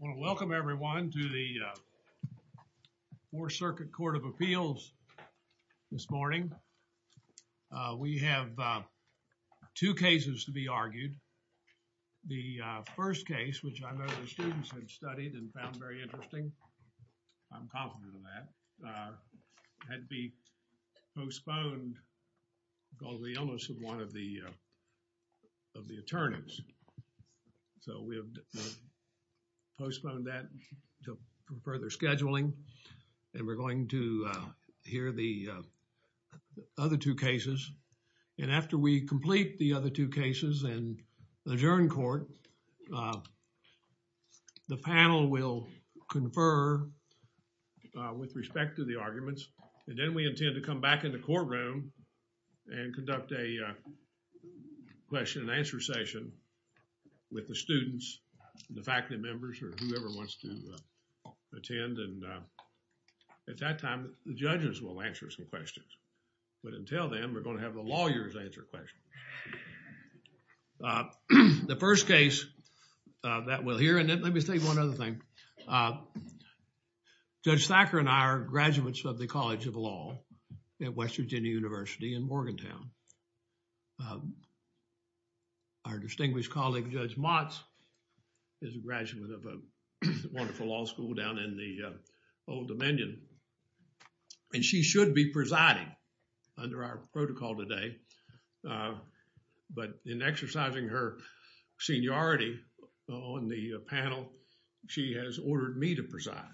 I want to welcome everyone to the, uh, Fourth Circuit Court of Appeals this morning. Uh, we have, uh, two cases to be argued. The, uh, first case, which I know the students had studied and found very interesting, I'm confident of that, uh, had to be postponed because of the illness of one of the, uh, of the attorneys. So, we have postponed that to further scheduling and we're going to, uh, hear the, uh, other two cases and after we complete the other two cases and adjourn court, uh, the panel will confer, uh, with respect to the arguments. And then we intend to come back in the courtroom and conduct a, uh, question and answer session with the students, the faculty members or whoever wants to, uh, attend and, uh, at that time the judges will answer some questions. But until then we're going to have the lawyers answer questions. Uh, the first case, uh, that we'll hear and let me say one other thing. Uh, Judge Thacker and I are graduates of the College of Law at West Virginia University in Morgantown. Uh, our distinguished colleague, Judge Motz is a graduate of a wonderful law school down in the, uh, Old Dominion and she should be presiding under our protocol today. Uh, but in exercising her seniority on the panel, she has ordered me to preside.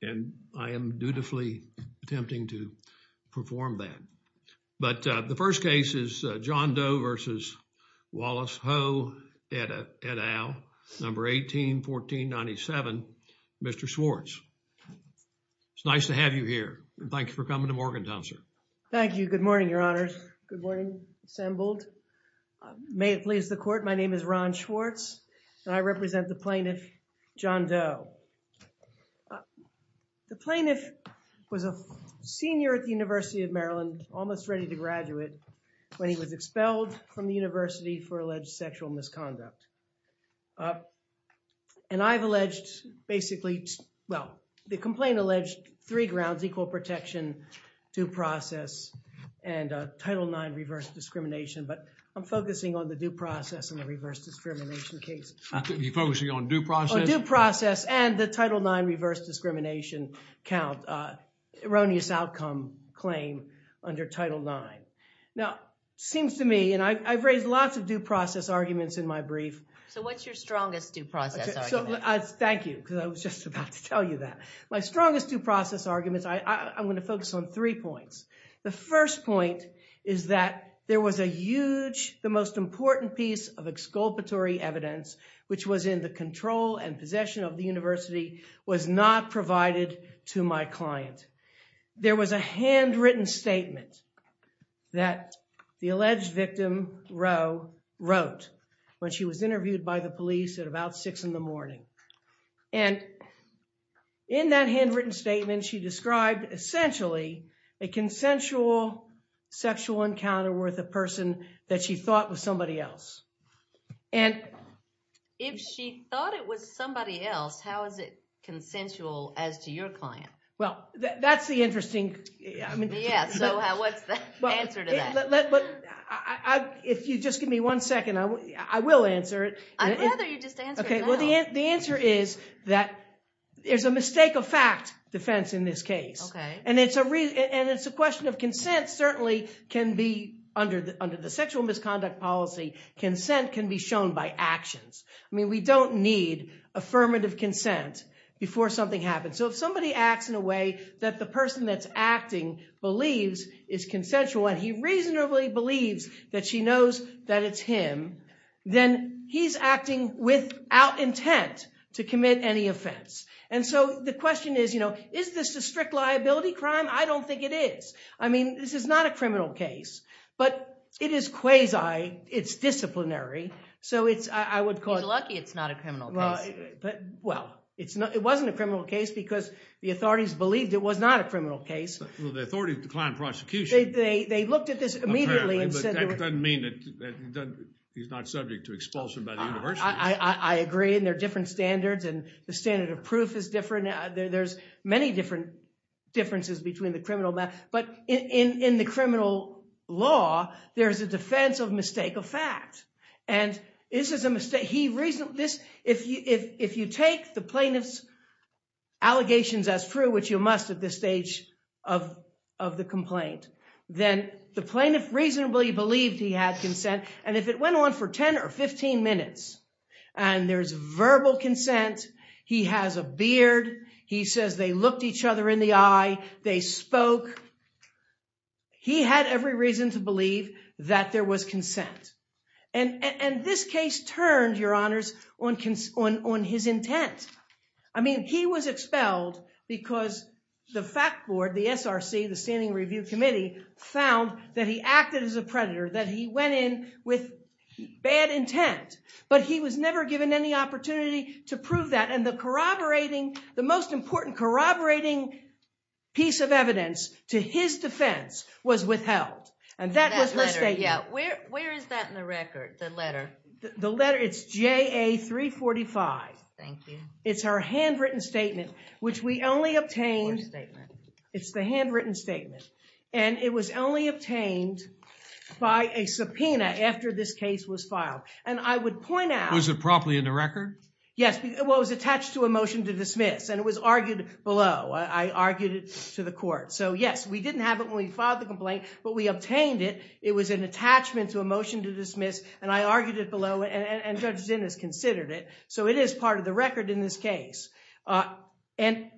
And I am dutifully attempting to perform that. But, uh, the first case is, uh, John Doe versus Wallace Ho et al., number 181497, Mr. Schwartz. It's nice to have you here. Thank you for coming to Morgantown, sir. Thank you. Good morning, your honors. Good morning, assembled. Uh, may it please the court, my name is Ron Schwartz and I represent the plaintiff, John Doe. Uh, the plaintiff was a senior at the University of Maryland, almost ready to graduate when he was expelled from the university for alleged sexual misconduct. Uh, and I've alleged basically, well, the complaint alleged three grounds, equal protection, due process, and, uh, Title IX reverse discrimination. But I'm focusing on the due process and the reverse discrimination case. You're focusing on due process? On due process and the Title IX reverse discrimination count, uh, erroneous outcome claim under Title IX. Now, seems to me, and I, I've raised lots of due process arguments in my brief. So what's your strongest due process argument? So, uh, thank you, because I was just about to tell you that. My strongest due process arguments, I, I, I'm going to focus on three points. The first point is that there was a huge, the most important piece of exculpatory evidence, which was in the control and possession of the university, was not provided to my client. There was a handwritten statement that the alleged victim, Ro, wrote when she was interviewed by the police at about six in the morning. And in that handwritten statement, she described essentially a consensual sexual encounter with a person that she thought was somebody else. And... If she thought it was somebody else, how is it consensual as to your client? Well, that's the interesting... Yeah, so what's the answer to that? If you just give me one second, I will answer it. I'd rather you just answer it now. Okay, well, the answer is that there's a mistake of fact defense in this case. Okay. And it's a reason, and it's a question of consent certainly can be under the sexual misconduct policy, consent can be shown by actions. I mean, we don't need affirmative consent before something happens. So if somebody acts in a way that the person that's acting believes is consensual, and he reasonably believes that she knows that it's him, then he's acting without intent to commit any offense. And so the question is, is this a strict liability crime? I don't think it is. I mean, this is not a criminal case, but it is quasi, it's disciplinary. So it's, I would call it... You're lucky it's not a criminal case. Well, it wasn't a criminal case because the authorities believed it was not a criminal case. Well, the authorities declined prosecution. They looked at this immediately and said... Apparently, but that doesn't mean that he's not subject to expulsion by the university. I agree, and there are different standards, and the standard of proof is different. There's many different differences between the criminal... But in the criminal law, there's a defense of if you take the plaintiff's allegations as true, which you must at this stage of the complaint, then the plaintiff reasonably believed he had consent. And if it went on for 10 or 15 minutes, and there's verbal consent, he has a beard, he says they looked each other in the eye, they spoke, he had every reason to believe that there was consent. And this case turned, Your Honors, on his intent. I mean, he was expelled because the fact board, the SRC, the Standing Review Committee, found that he acted as a predator, that he went in with bad intent. But he was never given any opportunity to prove that. And the corroborating, the most important corroborating piece of evidence to his defense was withheld. And that was the statement. That letter, yeah. Where is that in the record, the letter? The letter, it's JA-345. Thank you. It's her handwritten statement, which we only obtained... What statement? It's the handwritten statement. And it was only obtained by a subpoena after this case was filed. And I would point out... Was it properly in the record? Yes, it was attached to a motion to dismiss. And it was argued below. I argued it to the court. So yes, we didn't have it when we filed the complaint, but we obtained it. It was an attachment to a motion to dismiss. And I argued it below and Judge Zinn has considered it. So it is part of the record in this case. And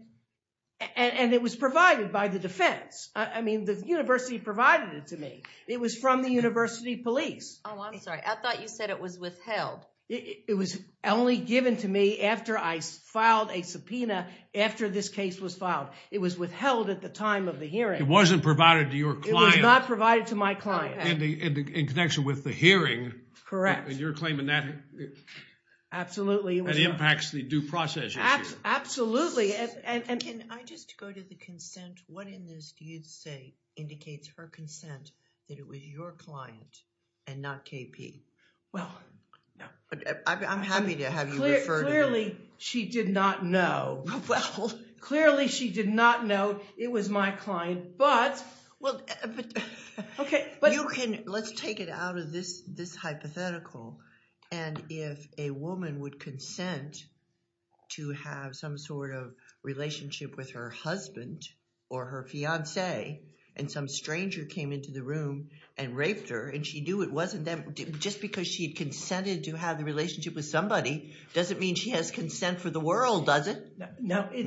it was provided by the defense. I mean, the university provided it to me. It was from the university police. Oh, I'm sorry. I thought you said it was withheld. It was only given to me after I filed a subpoena after this case was filed. It was withheld at the time of the hearing. It wasn't provided to your client. It was not provided to my client. And in connection with the hearing. Correct. And you're claiming that... Absolutely. That impacts the due process issue. Absolutely. And... Can I just go to the consent? What in this do you say indicates her consent that it was your client and not KP? Well, no. I'm happy to have you refer to her. Clearly, she did not know. Well, clearly she did not know. It was my client. But... Okay, but... You can... Let's take it out of this hypothetical. And if a woman would consent to have some sort of relationship with her husband or her fiance, and some stranger came into the room and raped her, and she knew it wasn't them, just because she had consented to have the relationship with somebody doesn't mean she has consent for the world, does it? No, it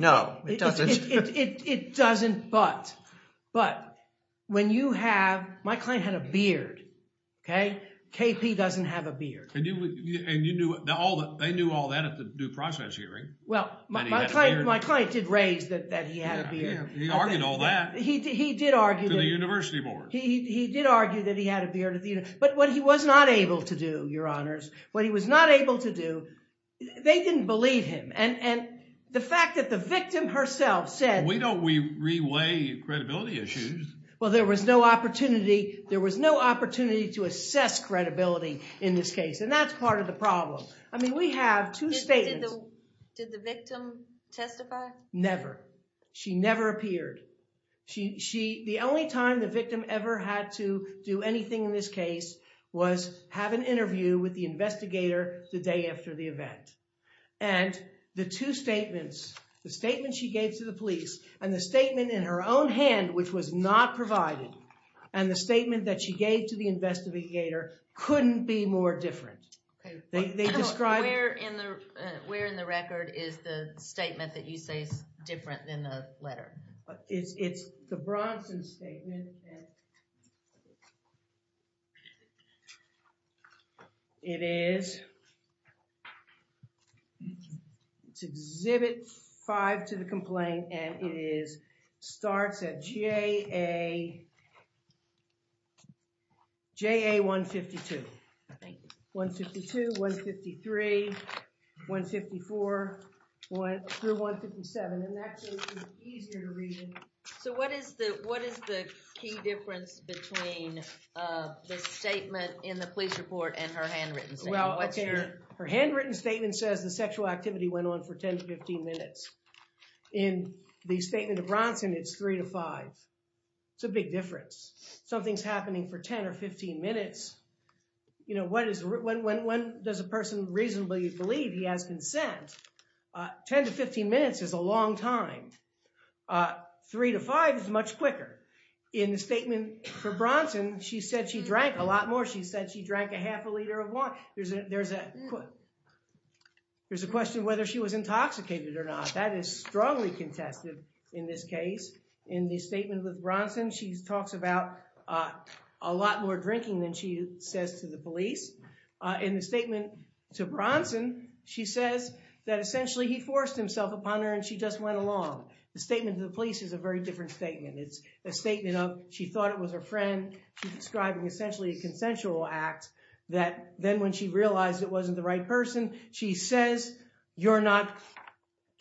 doesn't. But when you have... My client had a beard, okay? KP doesn't have a beard. They knew all that at the due process hearing. Well, my client did raise that he had a beard. He argued all that. He did argue that. To the university board. He did argue that he had a beard. But what he was not able to do, your honors, what he was not able to do, they didn't believe him. And the fact that the victim herself said... We don't re-weigh credibility issues. Well, there was no opportunity to assess credibility in this case. And that's part of the problem. I mean, we have two statements... Did the victim testify? Never. She never appeared. The only time the victim ever had to do anything in this case was have an interview with the investigator the day after the event. And the two statements, the statement she gave to the police and the statement in her own hand, which was not provided, and the statement that she gave to the investigator couldn't be more different. Where in the record is the statement that you say is different than the letter? It's the Bronson statement. It is... It's Exhibit 5 to the complaint, and it starts at J.A. 152, I think. 152, 153, 154, through 157. And that's easier to read. So what is the key difference between the statement in the police report and her handwritten statement? Well, her handwritten statement says the sexual activity went on for 10 to 15 minutes. In the statement of Bronson, it's 3 to 5. It's a big difference. Something's happening for 10 or 15 minutes. You know, when does a person reasonably believe he has consent? 10 to 15 minutes is a long time. 3 to 5 is much quicker. In the statement for Bronson, she said she drank a lot more. She said she drank a half a liter of wine. There's a question whether she was intoxicated or not. That is strongly contested in this case. In the statement with Bronson, she talks about a lot more drinking than she says to the police. In the statement to Bronson, she says that essentially he forced himself upon her and she just went along. The statement to the police is a very different statement. It's a statement of she thought it was her friend. She's describing essentially a consensual act that then when she realized it wasn't the right person, she says, you're not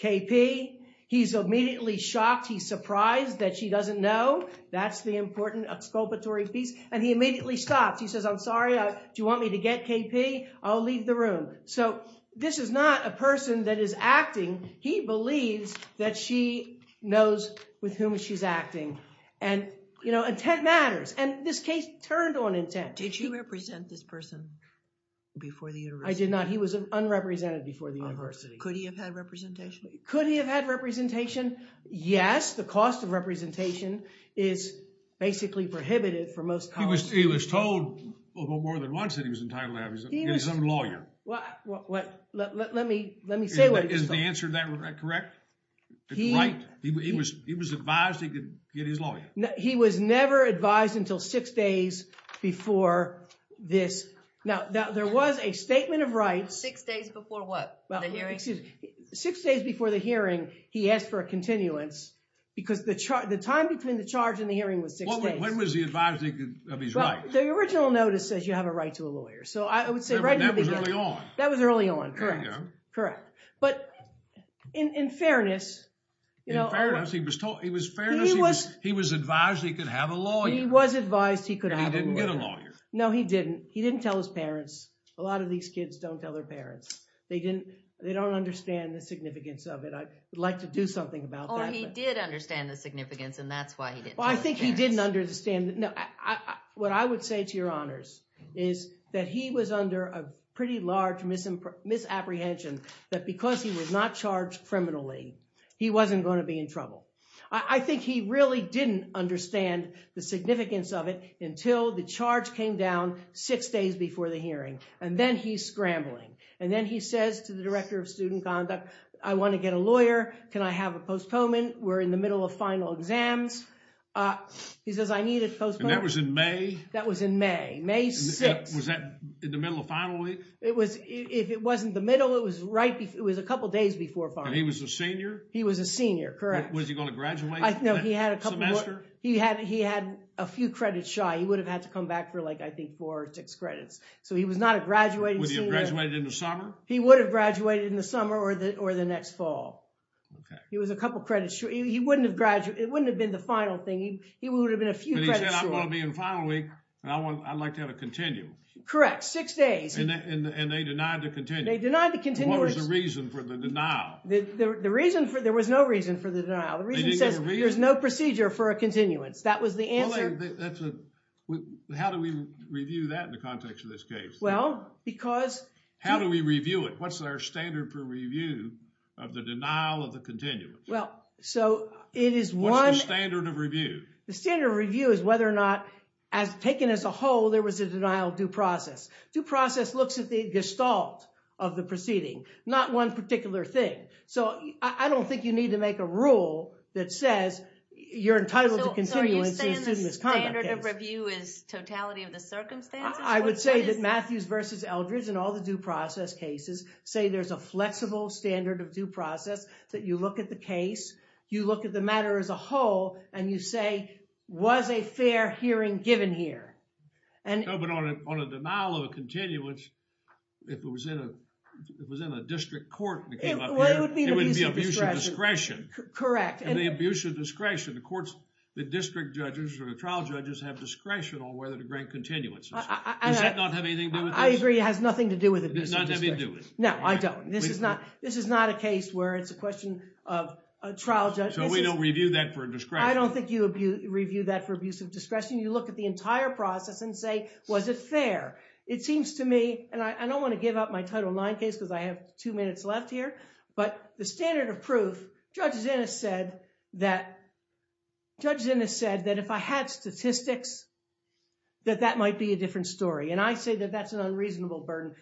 KP. He's immediately shocked. He's surprised that she doesn't know. That's the important exculpatory piece. And he immediately stops. He says, I'm sorry. Do you want me to get KP? I'll leave the room. So this is not a person that is acting. He believes that she knows with whom she's acting. And intent matters. And this case turned on intent. Did you represent this person before the university? I did not. He was unrepresented before the university. Could he have had representation? Could he have had representation? Yes. The cost of representation is basically prohibited for most colleges. Let me say what he was told. Is the answer to that correct? He was advised he could get his lawyer. He was never advised until six days before this. Now, there was a statement of rights. Six days before what? Six days before the hearing, he asked for a continuance. Because the time between the charge and the hearing was six days. When was he advised he could have his lawyer? The original notice says you have a right to a lawyer. So I would say right in the beginning. That was early on. That was early on. Correct. Correct. But in fairness, he was advised he could have a lawyer. He was advised he could have a lawyer. He didn't get a lawyer. No, he didn't. He didn't tell his parents. A lot of these kids don't tell their parents. They don't understand the significance of it. I'd like to do something about that. Oh, he did understand the significance. And that's why he didn't tell his parents. Well, I think he didn't understand. No, what I would say to your honors is that he was under a pretty large misapprehension that because he was not charged criminally, he wasn't going to be in trouble. I think he really didn't understand the significance of it until the charge came down six days before the hearing. And then he's scrambling. And then he says to the director of student conduct, I want to get a lawyer. Can I have a postponement? We're in the middle of final exams. He says, I need a postponement. And that was in May? That was in May. May 6th. Was that in the middle of final week? If it wasn't the middle, it was a couple of days before final week. And he was a senior? He was a senior. Correct. Was he going to graduate that semester? He had a few credits shy. He would have had to come back for, I think, four or six credits. So he was not a graduating senior. Would he have graduated in the summer? He would have graduated in the summer or the next fall. He was a couple of credits short. He wouldn't have graduated. It wouldn't have been the final thing. He would have been a few credits short. But he said, I'm going to be in final week. And I'd like to have a continue. Correct. Six days. And they denied the continue. They denied the continue. What was the reason for the denial? There was no reason for the denial. The reason says there's no procedure for a continuance. That was the answer. How do we review that in the context of this case? Well, because... How do we review it? What's our standard for review of the denial of the continuance? Well, so it is one... What's the standard of review? The standard review is whether or not, taken as a whole, there was a denial due process. Due process looks at the gestalt of the proceeding. Not one particular thing. So I don't think you need to make a rule that says you're entitled to continuance in a student misconduct case. So are you saying the standard of review is totality of the circumstances? I would say that Matthews v. Eldridge and all the due process cases say there's a flexible standard of due process that you look at the case, you look at the matter as a whole, and you say, was a fair hearing given here? No, but on a denial of a continuance, if it was in a district court that came up here, it would be abuse of discretion. Correct. The abuse of discretion, the courts, the district judges or the trial judges have discretion on whether to grant continuances. Does that not have anything to do with this? I agree, it has nothing to do with it. It does not have anything to do with it. No, I don't. This is not a case where it's a question of a trial judge... So we don't review that for a discretion? I don't think you review that for abuse of discretion. You look at the entire process and say, was it fair? It seems to me, and I don't want to give up my Title IX case because I have two minutes left here, but the standard of proof, Judge Zinn has said that if I had statistics, that that might be a different story. I say that that's an unreasonable burden.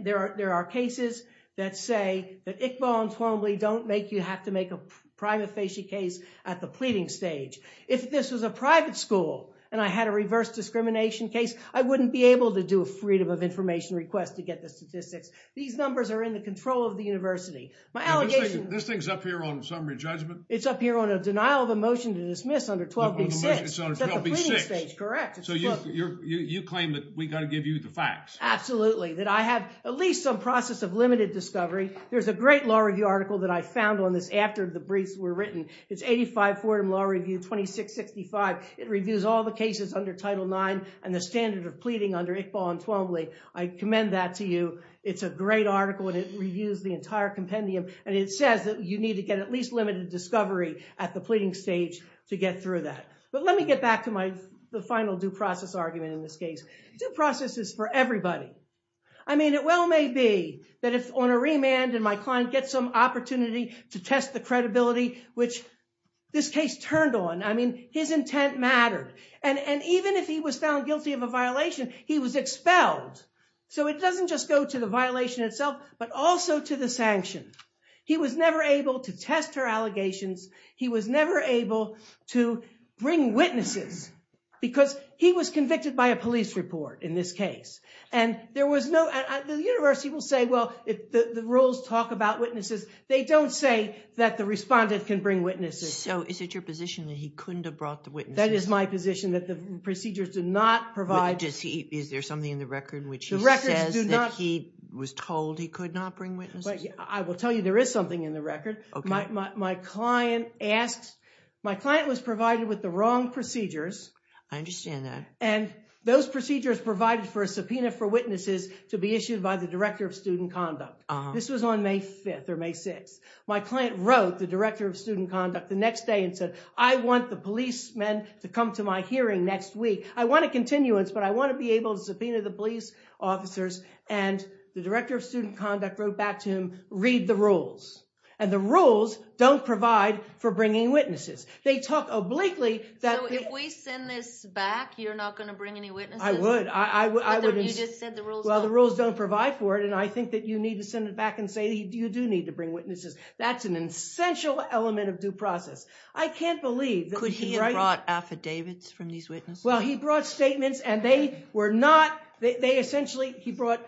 There are cases that say that Iqbal and Twombly don't make you have to make a prima facie case at the pleading stage. If this was a private school and I had a reverse discrimination case, I wouldn't be able to do a freedom of information request to get the statistics. These numbers are in the control of the university. My allegation... This thing's up here on summary judgment? It's up here on a denial of a motion to dismiss under 12B6. It's under 12B6. Correct. So you claim that we got to give you the facts? Absolutely, that I have at least some process of limited discovery. There's a great law review article that I found on this after the briefs were written. It's 85 Fordham Law Review 2665. It reviews all the cases under Title IX and the standard of pleading under Iqbal and Twombly. I commend that to you. It's a great article and it reviews the entire compendium and it says that you need to get at least limited discovery at the pleading stage to get through that. But let me get back to the final due process argument in this case. Due process is for everybody. I mean, it well may be that if on a remand and my client gets some opportunity to test the credibility, which this case turned on. I mean, his intent mattered. And even if he was found guilty of a violation, he was expelled. So it doesn't just go to the violation itself, but also to the sanction. He was never able to test her allegations. He was never able to bring witnesses because he was convicted by a police report in this case. And the university will say, well, the rules talk about witnesses. They don't say that the respondent can bring witnesses. So is it your position that he couldn't have brought the witnesses? That is my position, that the procedures did not provide... Does he... Is there something in the record which he says that he was told he could not bring witnesses? I will tell you there is something in the record. My client asked... My client was provided with the wrong procedures. I understand that. And those procedures provided for a subpoena for witnesses to be issued by the director of student conduct. This was on May 5th or May 6th. My client wrote the director of student conduct the next day and said, I want the policemen to come to my hearing next week. I want a continuance, but I want to be able to subpoena the police officers. And the director of student conduct wrote back to him, read the rules. And the rules don't provide for bringing witnesses. They talk obliquely that... So if we send this back, you're not going to bring any witnesses? I would, I would... You just said the rules... Well, the rules don't provide for it. And I think that you need to send it back and say, you do need to bring witnesses. That's an essential element of due process. I can't believe... Could he have brought affidavits from these witnesses? Well, he brought statements and they were not... They essentially... He brought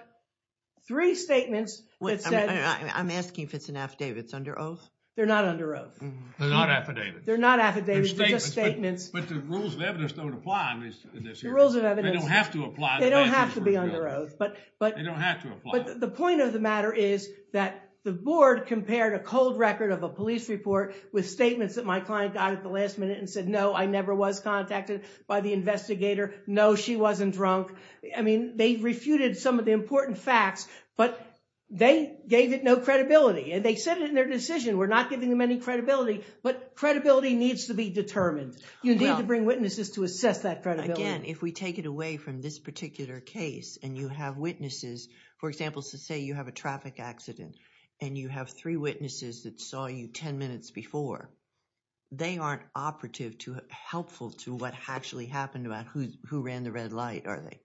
three statements that said... I'm asking if it's an affidavit, it's under oath? They're not under oath. They're not affidavits. They're not affidavits, they're just statements. But the rules of evidence don't apply in this case. The rules of evidence... They don't have to apply... They don't have to be under oath, but... They don't have to apply. The point of the matter is that the board compared a cold record of a police report with statements that my client got at the last minute and said, no, I never was contacted by the investigator. No, she wasn't drunk. I mean, they refuted some of the important facts, but they gave it no credibility. And they said in their decision, we're not giving them any credibility, but credibility needs to be determined. You need to bring witnesses to assess that credibility. Again, if we take it away from this particular case and you have witnesses, for example, say you have a traffic accident and you have three witnesses that saw you 10 minutes before, they aren't operative to helpful to what actually happened about who ran the red light, are they?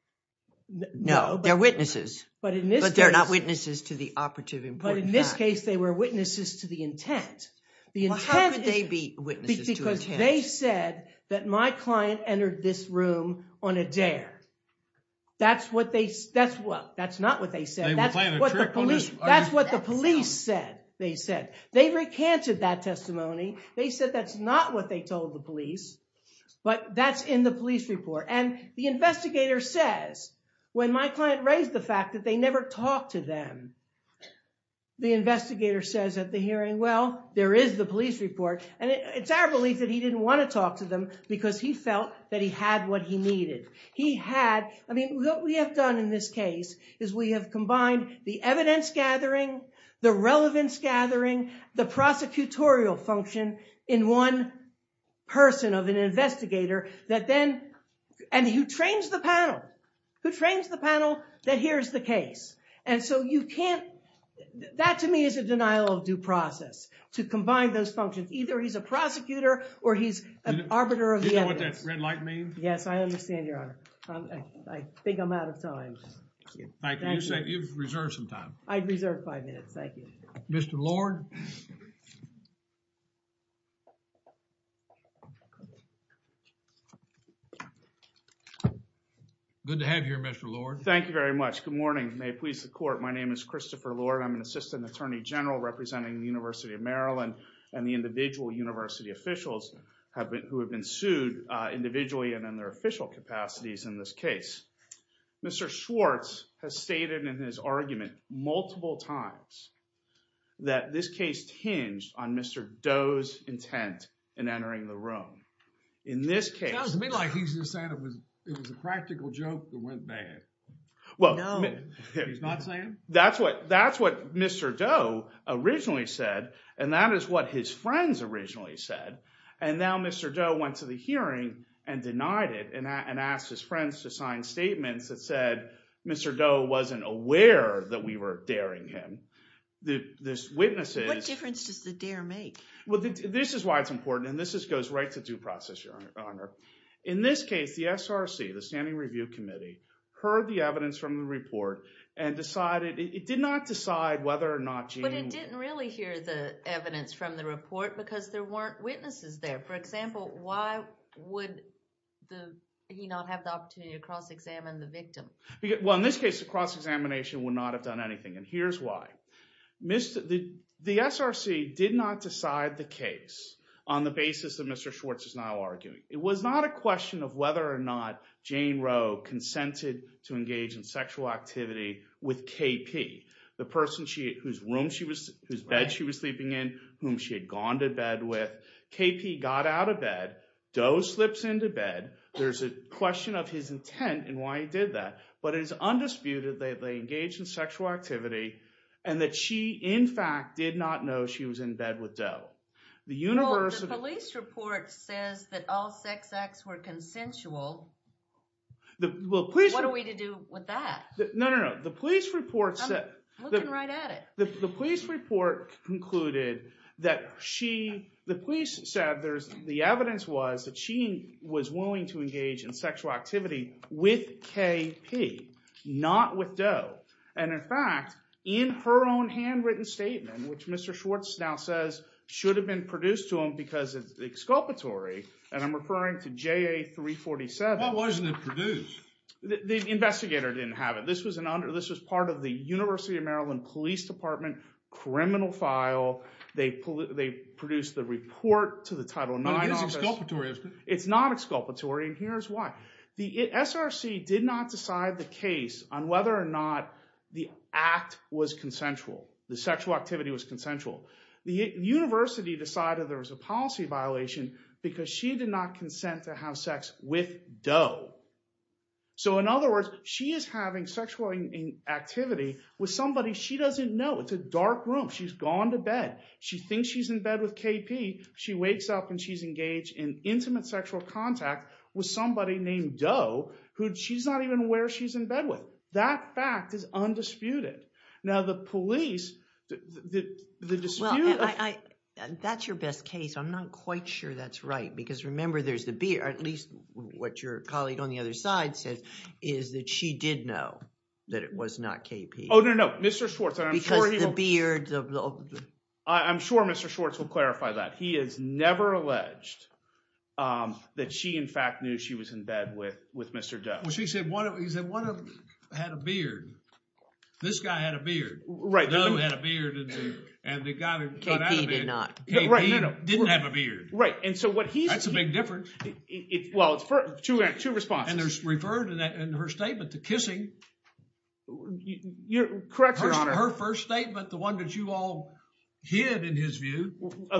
No, they're witnesses. But in this case... But they're not witnesses to the operative important facts. But in this case, they were witnesses to the intent. The intent is... Well, how could they be witnesses to intent? Because they said that my client entered this room on a dare. That's what they... That's what... That's not what they said. They were playing a trick on us. That's what the police said, they said. They recanted that testimony. They said that's not what they told the police, but that's in the police report. And the investigator says, when my client raised the fact that they never talked to them, the investigator says at the hearing, well, there is the police report. And it's our belief that he didn't want to talk to them because he felt that he had what he needed. He had... I mean, what we have done in this case is we have combined the evidence gathering, the relevance gathering, the prosecutorial function in one person of an investigator that then... And who trains the panel. Who trains the panel that here's the case. And so you can't... That to me is a denial of due process to combine those functions. Either he's a prosecutor or he's an arbiter of evidence. Do you know what that red light means? Yes, I understand, Your Honor. I think I'm out of time. Thank you. Thank you. You've reserved some time. I've reserved five minutes. Thank you. Mr. Lord. Good to have you here, Mr. Lord. Thank you very much. Good morning. May it please the court. My name is Christopher Lord. I'm an assistant attorney general representing the University of Maryland and the individual university officials who have been sued individually and in their official capacities in this case. Mr. Schwartz has stated in his argument multiple times that this case hinged on Mr. Doe's intent in entering the room. In this case... It sounds to me like he's just saying it was a practical joke that went bad. Well... He's not saying? That's what Mr. Doe originally said and that is what his friends originally said. And now Mr. Doe went to the hearing and denied it and asked his friends to sign statements that said Mr. Doe wasn't aware that we were daring him. The witnesses... What difference does the dare make? Well, this is why it's important and this goes right to due process, Your Honor. In this case, the SRC, the Standing Review Committee, heard the evidence from the report and decided... It did not decide whether or not Jane... But it didn't really hear the evidence from the report because there weren't witnesses there. For example, why would he not have the opportunity to cross-examine the victim? Well, in this case, the cross-examination would not have done anything and here's why. The SRC did not decide the case on the basis that Mr. Schwartz is now arguing. It was not a question of whether or not Jane Roe consented to engage in sexual activity with KP, the person whose bed she was sleeping in, whom she had gone to bed with. KP got out of bed. Doe slips into bed. There's a question of his intent and why he did that. But it is undisputed that they engaged in sexual activity and that she, in fact, did not know she was in bed with Doe. The university... Well, the police report says that all sex acts were consensual. Well, please... What are we to do with that? No, no, no. The police report said... I'm looking right at it. The police report concluded that she... The police said there's... The evidence was that she was willing to engage in sexual activity with KP, not with Doe. And in fact, in her own handwritten statement, which Mr. Schwartz now says should have been produced to him because it's exculpatory, and I'm referring to JA-347... Well, wasn't it produced? The investigator didn't have it. This was part of the University of Maryland Police Department criminal file. They produced the report to the Title IX office. But it is exculpatory. It's not exculpatory, and here's why. The SRC did not decide the case on whether or not the act was consensual, the sexual activity was consensual. The university decided there was a policy violation because she did not consent to have sex with Doe. So in other words, she is having sexual activity with somebody she doesn't know. It's a dark room. She's gone to bed. She thinks she's in bed with KP. She wakes up and she's engaged in intimate sexual contact with somebody named Doe, who she's not even aware she's in bed with. That fact is undisputed. Now, the police... The dispute... Well, that's your best case. I'm not quite sure that's right, because remember there's the... At least what your colleague on the other side said is that she did know that it was not KP. Oh, no, no. Mr. Schwartz, I'm sure he will... Because the beard of the... I'm sure Mr. Schwartz will clarify that. He has never alleged that she in fact knew she was in bed with Mr. Doe. Well, he said one of them had a beard. This guy had a beard. Right. Doe had a beard, and the guy that got out of bed... KP did not. Right, no, no. KP didn't have a beard. Right, and so what he's... That's a big difference. Well, it's two responses. There's referred in her statement to kissing. You're correct, Your Honor. Her first statement, the one that you all hid in his view,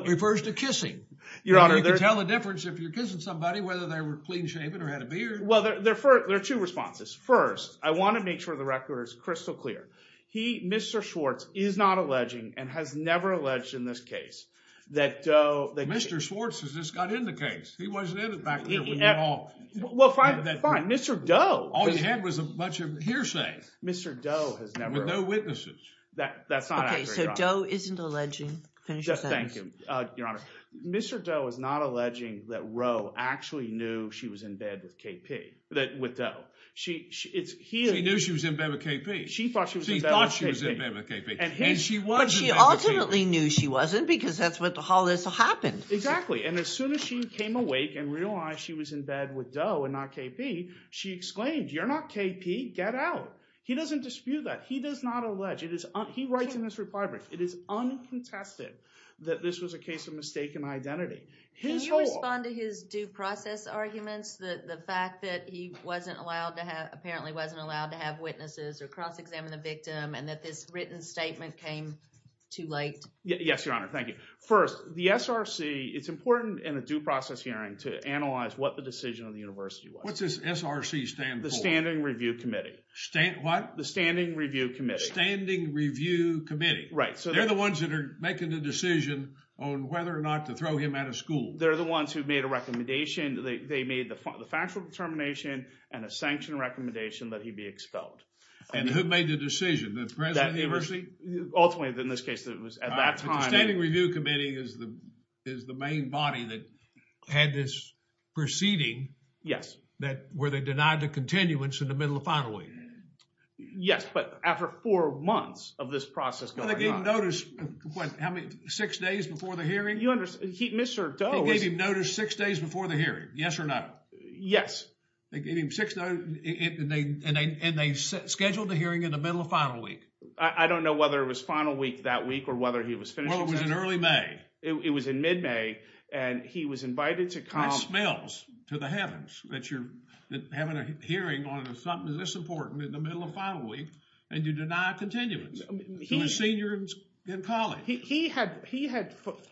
refers to kissing. Your Honor, there... You can tell the difference if you're kissing somebody, whether they were clean shaven or had a beard. Well, there are two responses. First, I want to make sure the record is crystal clear. He, Mr. Schwartz, is not alleging and has never alleged in this case that Doe... Mr. Schwartz has just got in the case. He wasn't in it back there when you all... Well, fine, fine. Mr. Doe... All he had was a bunch of hearsay. Mr. Doe has never... With no witnesses. That's not accurate, Your Honor. Okay, so Doe isn't alleging. Finish your sentence. Thank you, Your Honor. Mr. Doe is not alleging that Roe actually knew she was in bed with KP, with Doe. She knew she was in bed with KP. She thought she was in bed with KP. She thought she was in bed with KP. And she wasn't in bed with KP. But she ultimately knew she wasn't, because that's what the whole is happened. Exactly, and as soon as she came awake and realized she was in bed with Doe and not KP, she exclaimed, you're not KP, get out. He doesn't dispute that. He does not allege. It is... He writes in his reply brief. It is uncontested that this was a case of mistaken identity. Can you respond to his due process arguments? The fact that he wasn't allowed to have... Apparently wasn't allowed to have witnesses or cross-examine the victim and that this written statement came too late? Yes, Your Honor. Thank you. First, the SRC, it's important in a due process hearing to analyze what the decision of the university was. What does SRC stand for? The Standing Review Committee. What? The Standing Review Committee. Standing Review Committee. Right. So they're the ones that are making the decision on whether or not to throw him out of school. They're the ones who made a recommendation. They made the factual determination and a sanctioned recommendation that he be expelled. And who made the decision, the president of the university? Ultimately, in this case, it was at that time... The Standing Review Committee is the main body that had this proceeding. Yes. That where they denied the continuance in the middle of final week. Yes. But after four months of this process going on... They gave notice, what, how many? Six days before the hearing? You understand, Mr. Doe was... They gave him notice six days before the hearing. Yes or no? Yes. They gave him six days and they scheduled the hearing in the middle of final week. I don't know whether it was final week that week or whether he was finishing... Well, it was in early May. It was in mid-May and he was invited to come... It smells to the heavens that you're having a hearing on something this important in the middle of final week and you deny continuance to a senior in college. He had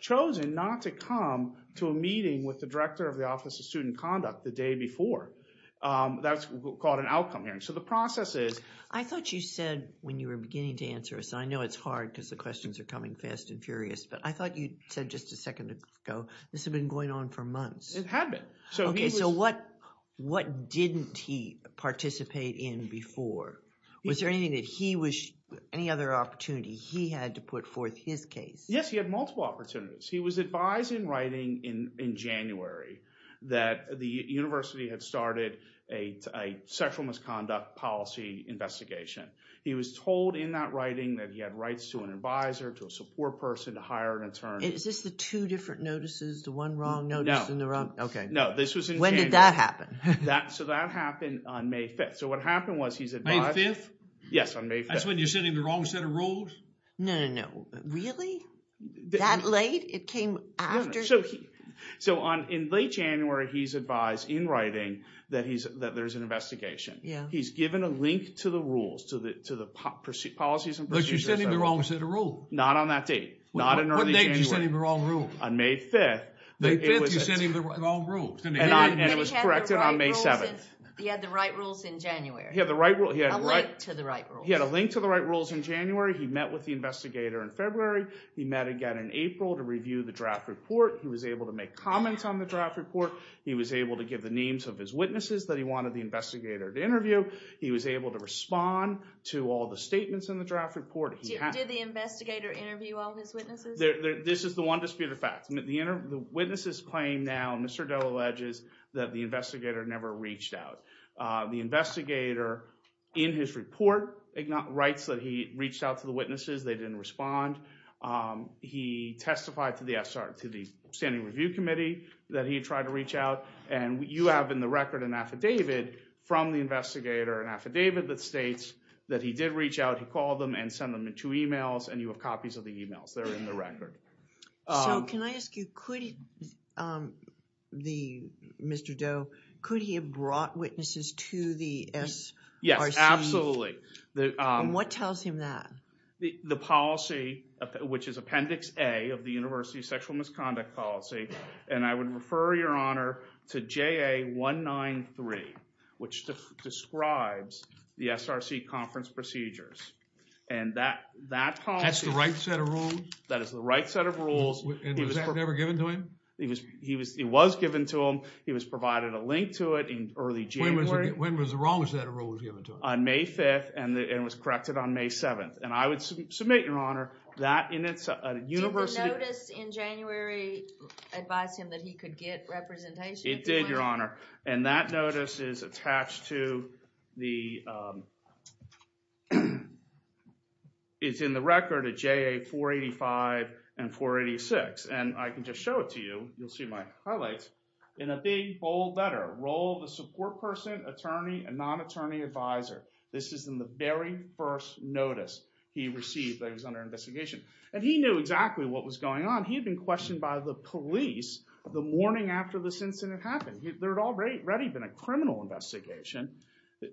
chosen not to come to a meeting with the Director of the Office of Student Conduct the day before. That's called an outcome hearing. So the process is... I thought you said when you were beginning to answer us, I know it's hard because the questions are coming fast and furious, but I thought you said just a second ago, this had been going on for months. It had been. Okay, so what didn't he participate in before? Was there anything that he was... Any other opportunity he had to put forth his case? Yes, he had multiple opportunities. He was advised in writing in January that the university had started a sexual misconduct policy investigation. He was told in that writing that he had rights to an advisor, to a support person, to hire an attorney. Is this the two different notices? The one wrong notice and the wrong... Okay. No, this was in January. When did that happen? So that happened on May 5th. So what happened was he's advised... May 5th? Yes, on May 5th. That's when you're sending the wrong set of rules? No, no, no. Really? That late? It came after... So in late January, he's advised in writing that there's an investigation. He's given a link to the rules, to the policies and procedures... When did you send him the wrong set of rules? Not on that date, not in early January. What date did you send him the wrong rules? On May 5th. May 5th, you sent him the wrong rules, didn't you? And it was corrected on May 7th. He had the right rules in January? He had the right rules. He had a link to the right rules. He had a link to the right rules in January. He met with the investigator in February. He met again in April to review the draft report. He was able to make comments on the draft report. He was able to give the names of his witnesses that he wanted the investigator to interview. He was able to respond to all the statements in the draft report. Did the investigator interview all his witnesses? This is the one disputed fact. The witnesses claim now, Mr. Dell alleges, that the investigator never reached out. The investigator in his report writes that he reached out to the witnesses. They didn't respond. He testified to the Standing Review Committee that he tried to reach out. And you have in the record an affidavit from the investigator, an affidavit that states that he did reach out. He called them and sent them in two emails. And you have copies of the emails. They're in the record. So can I ask you, could Mr. Doe, could he have brought witnesses to the SRC? Yes, absolutely. And what tells him that? The policy, which is Appendix A of the University of Sexual Misconduct policy. And I would refer your honor to JA 193, which describes the SRC conference procedures. And that policy. That's the right set of rules? That is the right set of rules. And was that never given to him? It was given to him. He was provided a link to it in early January. When was the wrong set of rules given to him? On May 5th, and it was corrected on May 7th. And I would submit, your honor, that in its university. Did the notice in January advise him that he could get representation? It did, your honor. And that notice is attached to the, it's in the record of JA 485 and 486. And I can just show it to you. You'll see my highlights. In a big, bold letter, role of the support person, attorney, and non-attorney advisor. This is in the very first notice he received that he was under investigation. And he knew exactly what was going on. He had been questioned by the police the morning after this incident happened. There had already been a criminal investigation.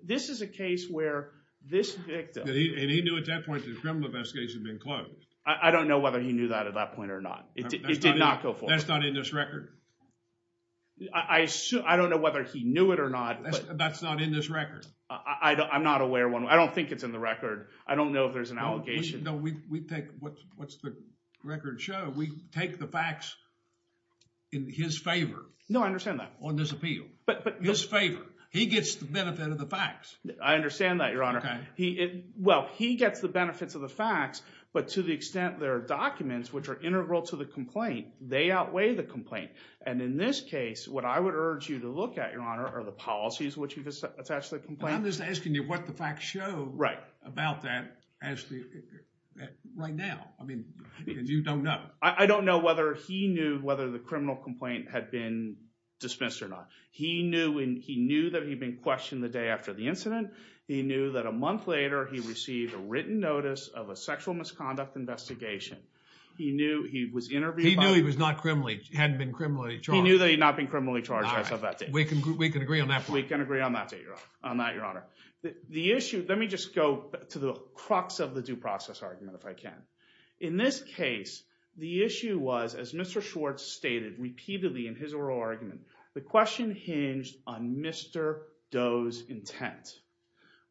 This is a case where this victim. And he knew at that point that the criminal investigation had been closed. I don't know whether he knew that at that point or not. It did not go forward. That's not in this record. I don't know whether he knew it or not. That's not in this record. I'm not aware of one. I don't think it's in the record. I don't know if there's an allegation. No, we take what's the record show. We take the facts in his favor. No, I understand that. But his favor. He gets the benefit of the facts. I understand that, Your Honor. Well, he gets the benefits of the facts. But to the extent there are documents which are integral to the complaint, they outweigh the complaint. And in this case, what I would urge you to look at, Your Honor, are the policies which you've attached to the complaint. I'm just asking you what the facts show about that right now. I mean, you don't know. I don't know whether he knew the criminal complaint had been dismissed or not. He knew that he'd been questioned the day after the incident. He knew that a month later, he received a written notice of a sexual misconduct investigation. He knew he was interviewed. He knew he was not criminally, hadn't been criminally charged. He knew that he'd not been criminally charged. I said that. We can agree on that. We can agree on that, Your Honor. On that, Your Honor. The issue, let me just go to the crux of the due process argument if I can. In this case, the issue was, as Mr. Schwartz stated repeatedly in his oral argument, the question hinged on Mr. Doe's intent.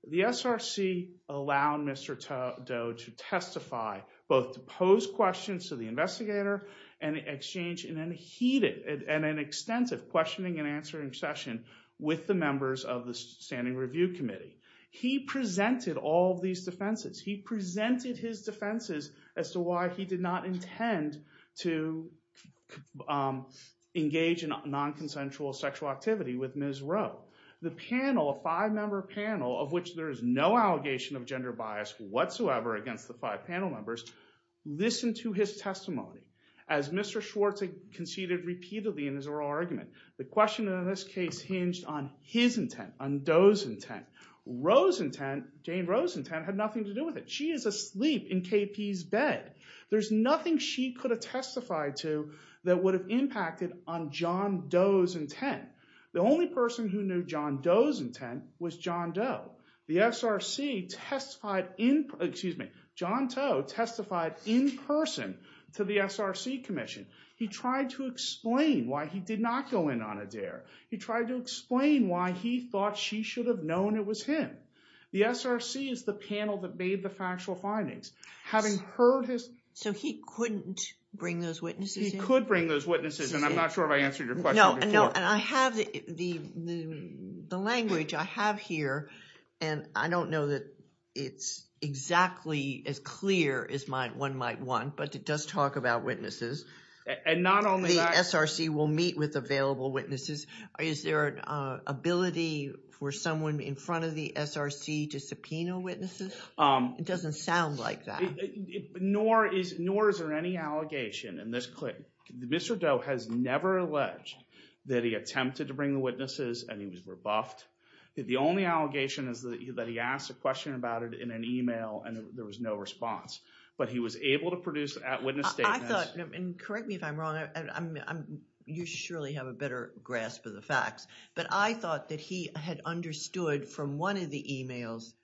The SRC allowed Mr. Doe to testify, both to pose questions to the investigator and exchange in a heated and an extensive questioning and answering session with the members of the Standing Review Committee. He presented all of these defenses. He presented his defenses as to why he did not intend to engage in non-consensual sexual activity with Ms. Rowe. The panel, a five-member panel, of which there is no allegation of gender bias whatsoever against the five panel members, listened to his testimony. As Mr. Schwartz conceded repeatedly in his oral argument, the question in this case hinged on his intent, on Doe's intent. Rowe's intent, Jane Rowe's intent, had nothing to do with it. She is asleep in KP's bed. There's nothing she could have testified to that would have impacted on John Doe's intent. The only person who knew John Doe's intent was John Doe. The SRC testified in, excuse me, John Toe testified in person to the SRC Commission. He tried to explain why he did not go in on a dare. He tried to explain why he thought she should have known it was him. The SRC is the panel that made the factual findings. Having heard his- So he couldn't bring those witnesses in? He could bring those witnesses in. I'm not sure if I answered your question before. No, and I have the language I have here, and I don't know that it's exactly as clear as one might want, but it does talk about witnesses. And not only that- SRC will meet with available witnesses. Is there an ability for someone in front of the SRC to subpoena witnesses? It doesn't sound like that. Nor is there any allegation in this clip. Mr. Doe has never alleged that he attempted to bring the witnesses, and he was rebuffed. The only allegation is that he asked a question about it in an email, and there was no response. But he was able to produce witness statements- I thought, and correct me if I'm wrong, and you surely have a better grasp of the facts, but I thought that he had understood from one of the emails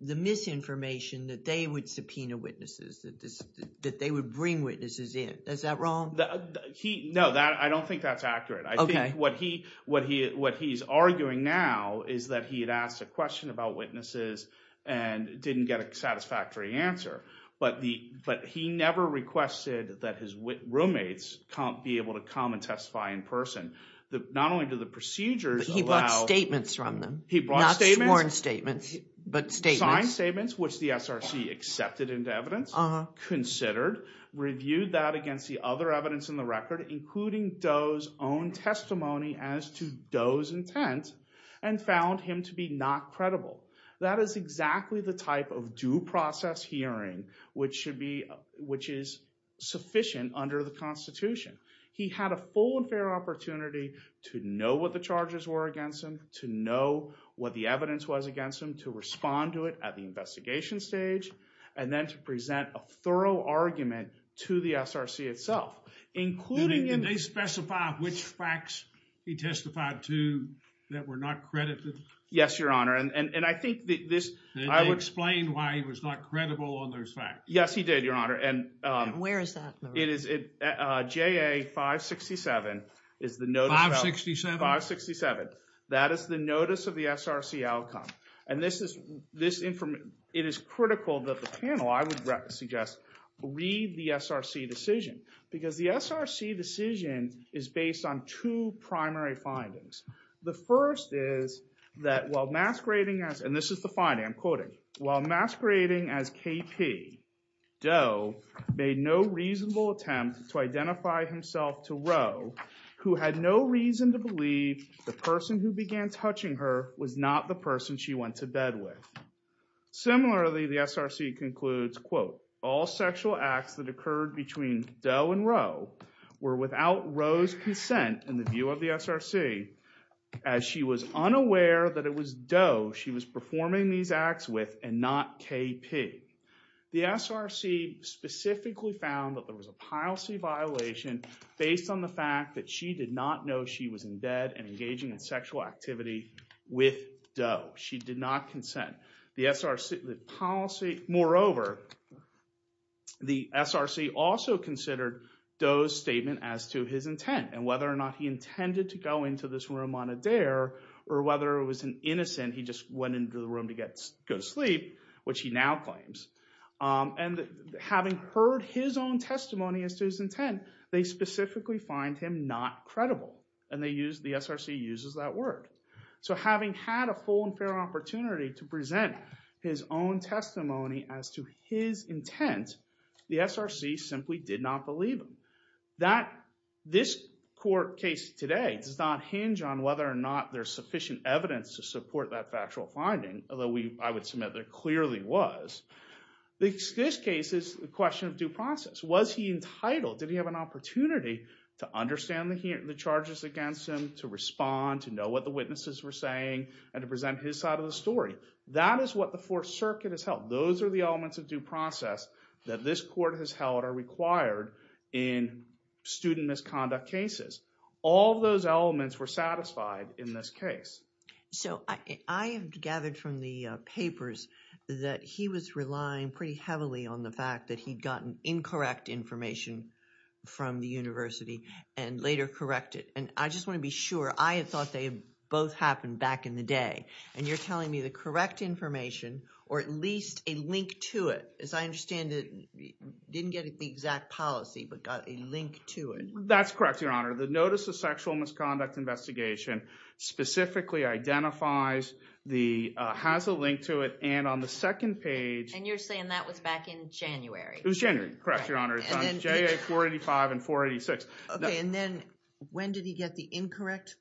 the misinformation that they would subpoena witnesses, that they would bring witnesses in. Is that wrong? No, I don't think that's accurate. I think what he's arguing now is that he had asked a question about witnesses and didn't get a satisfactory answer. But he never requested that his roommates be able to come and testify in person. Not only do the procedures allow- But he brought statements from them. He brought statements. Not sworn statements, but statements. Signed statements, which the SRC accepted into evidence, considered, reviewed that against the other evidence in the record, including Doe's own testimony as to Doe's intent, and found him to be not credible. That is exactly the type of due process hearing which should be, which is sufficient under the Constitution. He had a full and fair opportunity to know what the charges were against him, to know what the evidence was against him, to respond to it at the investigation stage, and then to present a thorough argument to the SRC itself, including- Did they specify which facts he testified to that were not credited? Yes, Your Honor, and I think this- I explained why he was not credible on those facts. Yes, he did, Your Honor. And where is that? It is at JA 567, is the notice- 567? 567. That is the notice of the SRC outcome. And this is, it is critical that the panel, I would suggest, read the SRC decision. Because the SRC decision is based on two primary findings. The first is that while masquerading as- And this is the finding, I'm quoting. While masquerading as KP, Doe made no reasonable attempt to identify himself to Roe, who had no reason to believe the person who began touching her was not the person she went to bed with. Similarly, the SRC concludes, quote, all sexual acts that occurred between Doe and Roe were without Roe's consent in the view of the SRC, as she was unaware that it was Doe she was performing these acts with and not KP. The SRC specifically found that there was a policy violation based on the fact that she did not know she was in bed and engaging in sexual activity with Doe. She did not consent. The SRC, the policy- Moreover, the SRC also considered Doe's statement as to his intent and whether or not he intended to go into this room on a dare or whether it was an innocent, he just went into the room to go to sleep, which he now claims. And having heard his own testimony as to his intent, they specifically find him not credible. And they use- The SRC uses that word. So having had a full and fair opportunity to present his own testimony as to his intent, the SRC simply did not believe him. That this court case today does not hinge on whether or not there's sufficient evidence to support that factual finding, although I would submit there clearly was. This case is a question of due process. Was he entitled? Did he have an opportunity to understand the charges against him, to respond, to know what the witnesses were saying, and to present his side of the story? That is what the Fourth Circuit has held. Those are the elements of due process that this court has held are required in student misconduct cases. All those elements were satisfied in this case. So I have gathered from the papers that he was relying pretty heavily on the fact that he'd gotten incorrect information from the university and later correct it. And I just want to be sure, I had thought they both happened back in the day. And you're telling me the correct information, or at least a link to it, as I understand it, didn't get the exact policy, but got a link to it. That's correct, Your Honor. The Notice of Sexual Misconduct Investigation specifically identifies, has a link to it, and on the second page... And you're saying that was back in January. It was January, correct, Your Honor. It's on JA 485 and 486. Okay, and then when did he get the incorrect?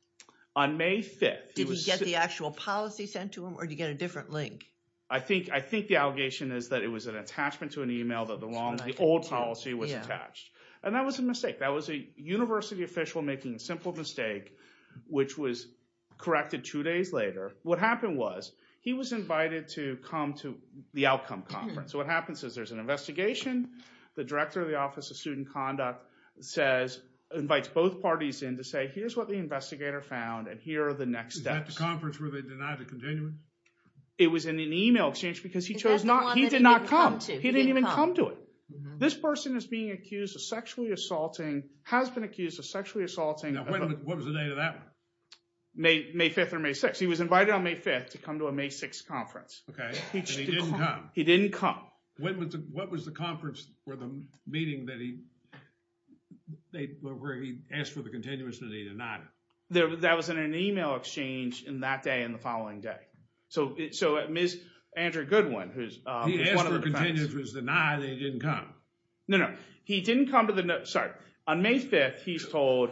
On May 5th. Did he get the actual policy sent to him, or did he get a different link? I think the allegation is that it was an attachment to an email, that the old policy was attached. And that was a mistake. That was a university official making a simple mistake, which was corrected two days later. What happened was, he was invited to come to the outcome conference. So what happens is, there's an investigation, the Director of the Office of Student Conduct invites both parties in to say, here's what the investigator found, and here are the next steps. Is that the conference where they denied a continuance? It was in an email exchange, because he chose not... He did not come. He didn't even come to it. This person is being accused of sexually assaulting, has been accused of sexually assaulting... Now, what was the date of that one? May 5th or May 6th. He was invited on May 5th to come to a May 6th conference. Okay, and he didn't come. He didn't come. When was the... What was the conference, or the meeting that he asked for the continuance and he denied it? That was in an email exchange in that day and the following day. So, Ms. Andrew Goodwin, who's one of the... He asked for a continuance, was denied, and he didn't come. No, no. He didn't come to the... Sorry. On May 5th, he's told,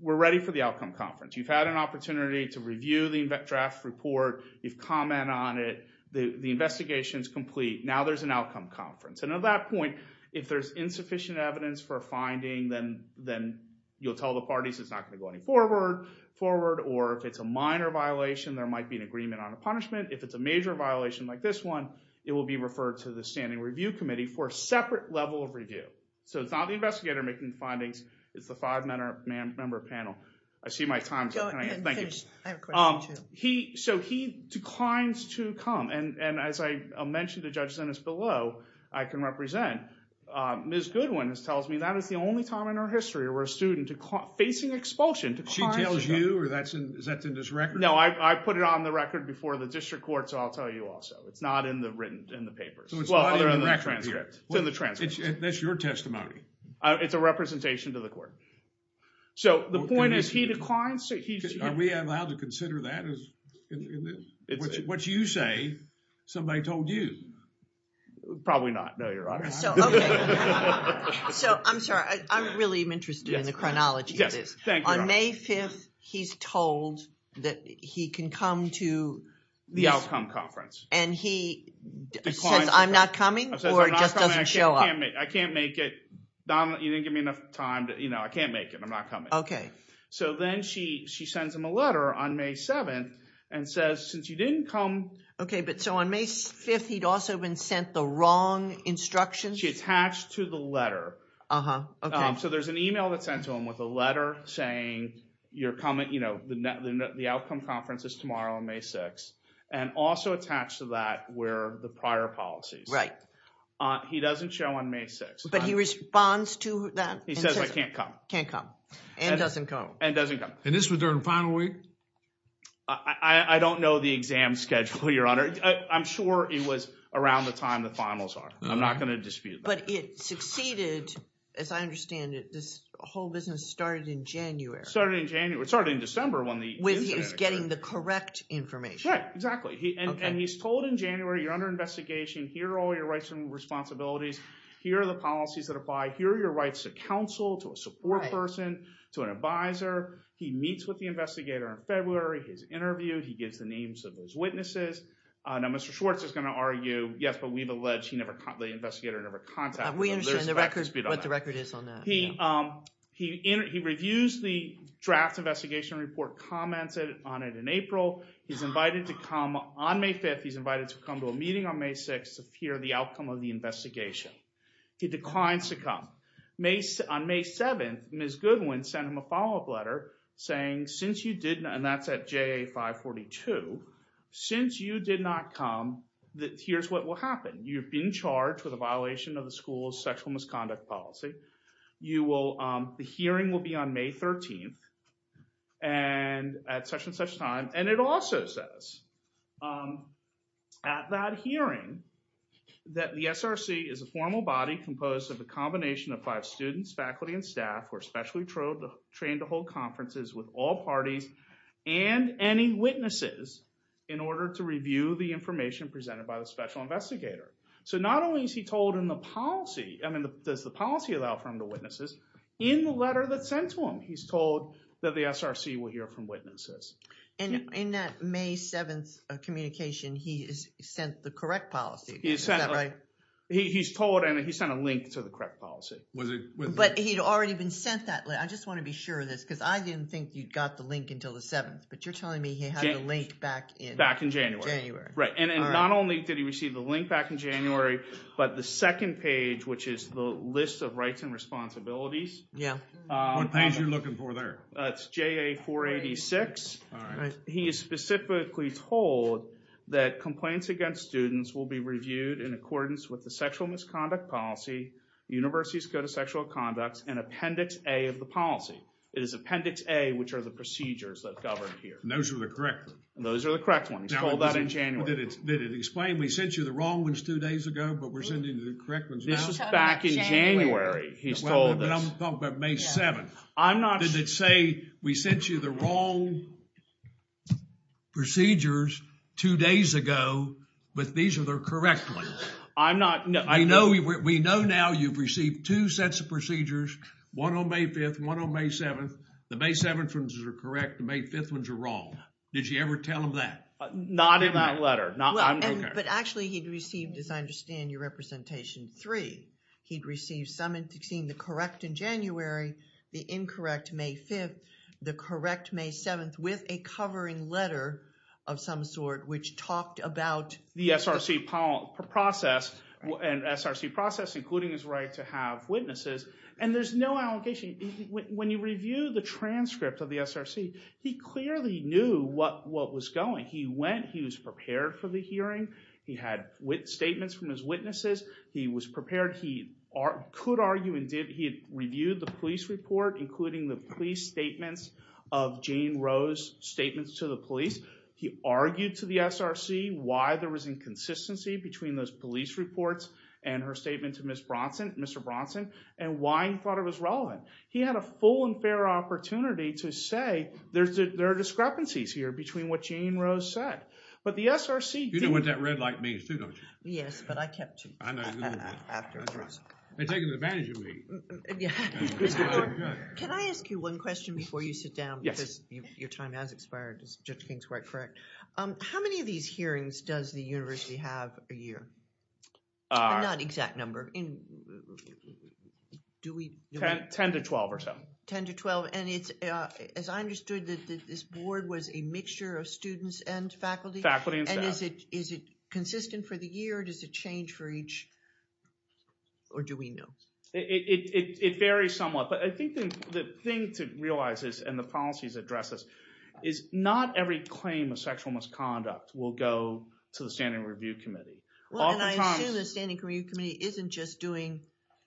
we're ready for the outcome conference. You've had an opportunity to review the draft report. You've commented on it. The investigation is complete. Now, there's an outcome conference. And at that point, if there's insufficient evidence for a finding, then you'll tell the parties it's not going to go any forward, or if it's a minor violation, there might be an agreement on a punishment. If it's a major violation like this one, it will be referred to the standing review committee for a separate level of review. So, it's not the investigator making the findings. It's the five-member panel. I see my time's up. Go ahead and finish. I have a question, too. So, he declines to come. And as I mentioned to Judge Zennis below, I can represent. Ms. Goodwin tells me that is the only time in her history where a student facing expulsion declines... She tells you, or is that in his record? No, I put it on the record before the district court, so I'll tell you also. It's not in the written, in the papers. So, it's not in the record? Well, other than the transcript. It's in the transcript. That's your testimony. It's a representation to the court. So, the point is, he declines. Are we allowed to consider that? What you say, somebody told you. Probably not, no, Your Honor. So, I'm sorry. I'm really interested in the chronology of this. Yes, thank you, Your Honor. May 5th, he's told that he can come to... The outcome conference. And he says, I'm not coming, or just doesn't show up? I can't make it. You didn't give me enough time. I can't make it. I'm not coming. Okay. So, then she sends him a letter on May 7th, and says, since you didn't come... Okay, but so on May 5th, he'd also been sent the wrong instructions? She attached to the letter. So, there's an email that's sent to him with a letter saying, the outcome conference is tomorrow on May 6th, and also attached to that were the prior policies. Right. He doesn't show on May 6th. But he responds to that? He says, I can't come. Can't come, and doesn't come. And doesn't come. And this was during the final week? I don't know the exam schedule, Your Honor. I'm sure it was around the time the finals are. I'm not going to dispute that. But it succeeded, as I understand it, this whole business started in January. Started in January. It started in December when the incident occurred. When he was getting the correct information. Right, exactly. And he's told in January, you're under investigation. Here are all your rights and responsibilities. Here are the policies that apply. Here are your rights to counsel, to a support person, to an advisor. He meets with the investigator in February. He's interviewed. He gives the names of those witnesses. Now, Mr. Schwartz is going to argue, yes, but we've alleged the investigator never contacted him. We understand what the record is on that. He reviews the draft investigation report, comments on it in April. He's invited to come on May 5th. He's invited to come to a meeting on May 6th to hear the outcome of the investigation. He declines to come. On May 7th, Ms. Goodwin sent him a follow-up letter saying, since you did not, and that's at JA 542, since you did not come, here's what will happen. You've been charged with a violation of the school's sexual misconduct policy. You will, the hearing will be on May 13th and at such and such time. And it also says at that hearing that the SRC is a formal body composed of a combination of five students, faculty, and staff, who are specially trained to hold conferences with all parties and any witnesses in order to review the information presented by the special investigator. So not only is he told in the policy, does the policy allow for him to witness this? In the letter that's sent to him, he's told that the SRC will hear from witnesses. And in that May 7th communication, he sent the correct policy, is that right? He's told and he sent a link to the correct policy. But he'd already been sent that link. I just want to be sure of this because I didn't think you'd got the link until the 7th, but you're telling me he had the link back in January. Right, and not only did he receive the link back in January, but the second page, which is the list of rights and responsibilities. Yeah. What page you're looking for there? It's JA 486. He is specifically told that complaints against students will be reviewed in accordance with the sexual misconduct policy, universities code of sexual conducts, and Appendix A of the policy. It is Appendix A, which are the procedures that govern here. And those are the correct ones? Those are the correct ones. He's told that in January. Did it explain, we sent you the wrong ones two days ago, but we're sending you the correct ones now? This is back in January. He's told this. But I'm talking about May 7th. I'm not... Did it say we sent you the wrong procedures two days ago, but these are the correct ones? I'm not... I know we know now you've received two sets of procedures, one on May 5th, one on May 7th. The May 7th ones are correct. The May 5th ones are wrong. Did you ever tell him that? Not in that letter. But actually he'd received, as I understand your representation, three. He'd received some in the correct in January, the incorrect May 5th, the correct May 7th, with a covering letter of some sort, which talked about... The SRC process, an SRC process, including his right to have witnesses. And there's no allegation. When you review the transcript of the SRC, he clearly knew what was going. He was prepared for the hearing. He had statements from his witnesses. He was prepared. He could argue and did. He had reviewed the police report, including the police statements of Jane Rose, statements to the police. He argued to the SRC why there was inconsistency between those police reports and her statement to Ms. Bronson, Mr. Bronson, and why he thought it was relevant. He had a full and fair opportunity to say there are discrepancies here between what Jane Rose said. But the SRC... You know what that red light means too, don't you? Yes, but I kept to it. I know you do. After it was wrong. They're taking advantage of me. Yeah. Can I ask you one question before you sit down? Yes. Because your time has expired, as Judge King's quite correct. How many of these hearings does the university have a year? Not exact number. Do we... 10 to 12 or so. 10 to 12. And it's, as I understood, this board was a mixture of students and faculty? Faculty and staff. And is it consistent for the year? Or does it change for each? Or do we know? It varies somewhat. But I think the thing to realize is, and the policies address this, is not every claim of sexual misconduct will go to the Standing Review Committee. Well, and I assume the Standing Review Committee isn't just doing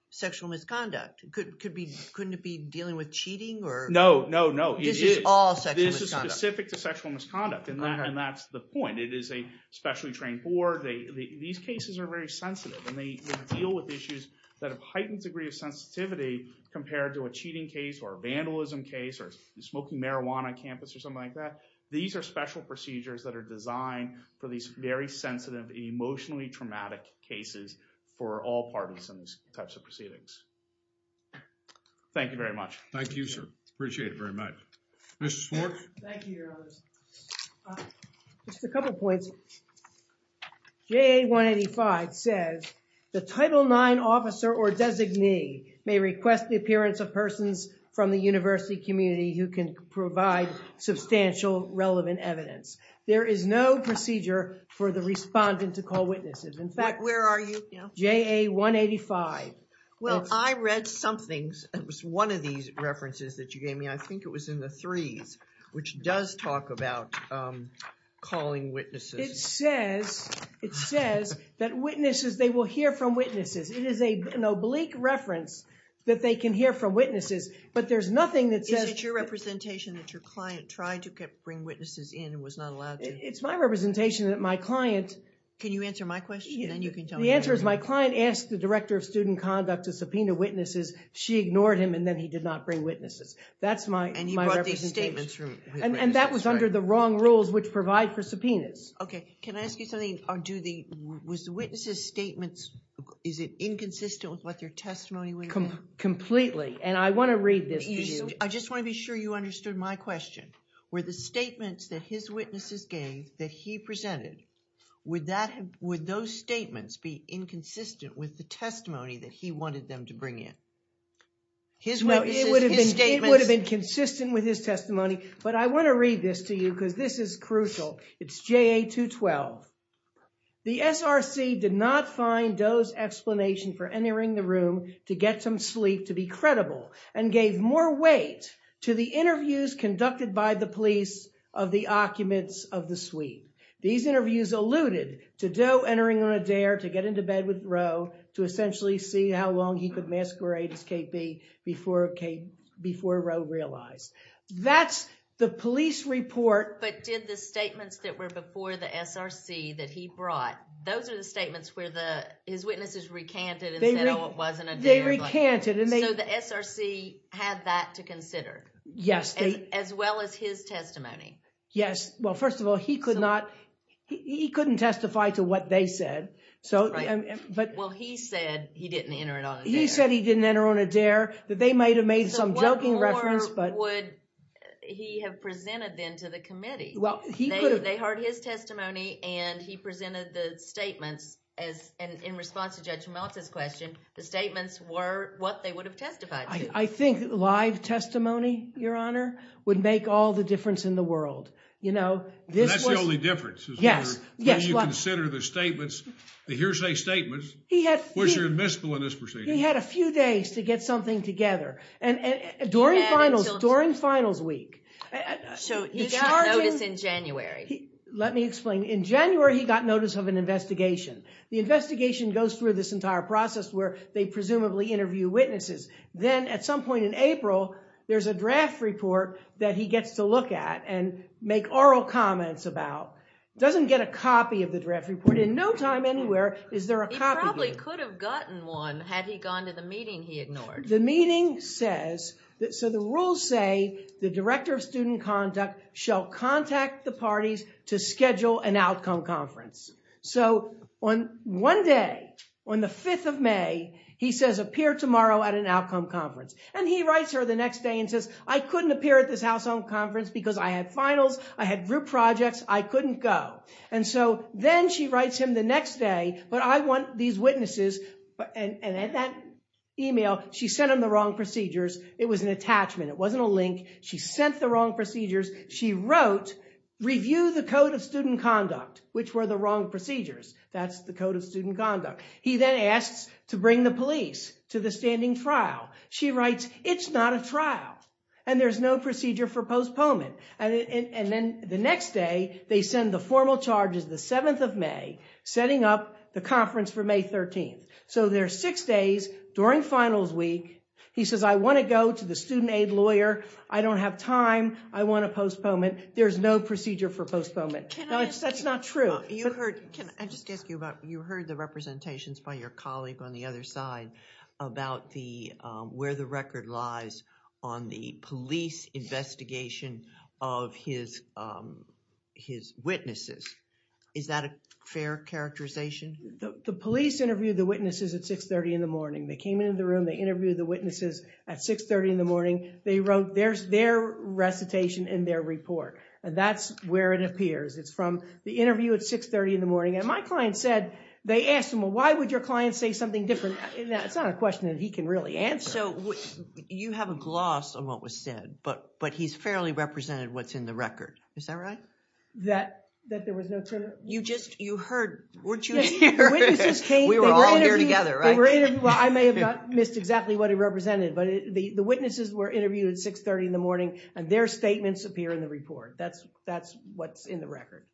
sexual misconduct. Couldn't it be dealing with cheating or... No, no, no. This is specific to sexual misconduct. And that's the point. It is a specially trained board. These cases are very sensitive. And they deal with issues that have heightened degree of sensitivity compared to a cheating case, or a vandalism case, or smoking marijuana on campus, or something like that. These are special procedures that are designed for these very sensitive, emotionally traumatic cases for all parties in these types of proceedings. Thank you very much. Thank you, sir. Appreciate it very much. Mrs. Schwartz? Thank you, Your Honors. Just a couple points. JA 185 says, the Title IX officer or designee may request the appearance of persons from the university community who can provide substantial relevant evidence. There is no procedure for the respondent to call witnesses. In fact... Where are you now? JA 185. Well, I read somethings. It was one of these references that you gave me. I think it was in the threes, which does talk about calling witnesses. It says that witnesses, they will hear from witnesses. It is an oblique reference that they can hear from witnesses. But there's nothing that says... Is it your representation that your client tried to bring witnesses in and was not allowed to? It's my representation that my client... Can you answer my question? And then you can tell me yours. The answer is my client asked the Director of Student Conduct to subpoena witnesses. She ignored him and then he did not bring witnesses. That's my representation. And he brought these statements from... And that was under the wrong rules which provide for subpoenas. Okay. Can I ask you something? Or do the... Was the witness's statements... Is it inconsistent with what your testimony would have been? Completely. And I want to read this to you. I just want to be sure you understood my question. Were the statements that his witnesses gave that he presented, would that... Would those statements be inconsistent with the testimony that he wanted them to bring in? His witnesses, his statements... It would have been consistent with his testimony. But I want to read this to you because this is crucial. It's JA-212. The SRC did not find Doe's explanation for entering the room to get some sleep to be credible and gave more weight to the interviews conducted by the police of the occupants of the suite. These interviews alluded to Doe entering on a dare to get into bed with Roe to essentially see how long he could masquerade as KB before Roe realized. That's the police report... But did the statements that were before the SRC that he brought, those are the statements where his witnesses recanted and said, oh, it wasn't a dare. They recanted and they... So the SRC had that to consider? Yes. As well as his testimony? Yes. Well, first of all, he could not... He couldn't testify to what they said. Well, he said he didn't enter it on a dare. He said he didn't enter on a dare, that they might have made some joking reference, but... Or would he have presented then to the committee? Well, he could have... They heard his testimony and he presented the statements as... And in response to Judge Meltzer's question, the statements were what they would have testified to. I think live testimony, Your Honor, would make all the difference in the world. You know, this was... And that's the only difference? Yes. When you consider the statements, the hearsay statements, he had a few days to get something together. And during finals week... So he got notice in January. Let me explain. In January, he got notice of an investigation. The investigation goes through this entire process where they presumably interview witnesses. Then at some point in April, there's a draft report that he gets to look at and make oral comments about. He doesn't get a copy of the draft report. In no time anywhere is there a copy here. He probably could have gotten one had he gone to the meeting he ignored. The meeting says... So the rules say the director of student conduct shall contact the parties to schedule an outcome conference. So on one day, on the 5th of May, he says appear tomorrow at an outcome conference. And he writes her the next day and says, I couldn't appear at this house-owned conference because I had finals. I had group projects. I couldn't go. And so then she writes him the next day, but I want these witnesses. And at that email, she sent him the wrong procedures. It was an attachment. It wasn't a link. She sent the wrong procedures. She wrote, review the code of student conduct, which were the wrong procedures. That's the code of student conduct. He then asks to bring the police to the standing trial. She writes, it's not a trial and there's no procedure for postponement. And then the next day, they send the formal charges the 7th of May, setting up the conference for May 13th. So there's six days during finals week. He says, I want to go to the student aid lawyer. I don't have time. I want to postpone it. There's no procedure for postponement. That's not true. You heard, can I just ask you about, you heard the representations by your colleague on the other side about the, where the record lies on the police investigation of his, his witnesses. Is that a fair characterization? The police interviewed the witnesses at 630 in the morning. They came into the room. They interviewed the witnesses at 630 in the morning. They wrote, there's their recitation in their report. And that's where it appears. It's from the interview at 630 in the morning. And my client said, they asked him, well, why would your client say something different? It's not a question that he can really answer. So you have a gloss on what was said, but, but he's fairly represented what's in the record. Is that right? That, that there was no turn? You just, you heard, weren't you? Yes, the witnesses came. We were all here together, right? Well, I may have missed exactly what he represented, but the witnesses were interviewed at 630 in the morning and their statements appear in the report. That's, that's what's in the record.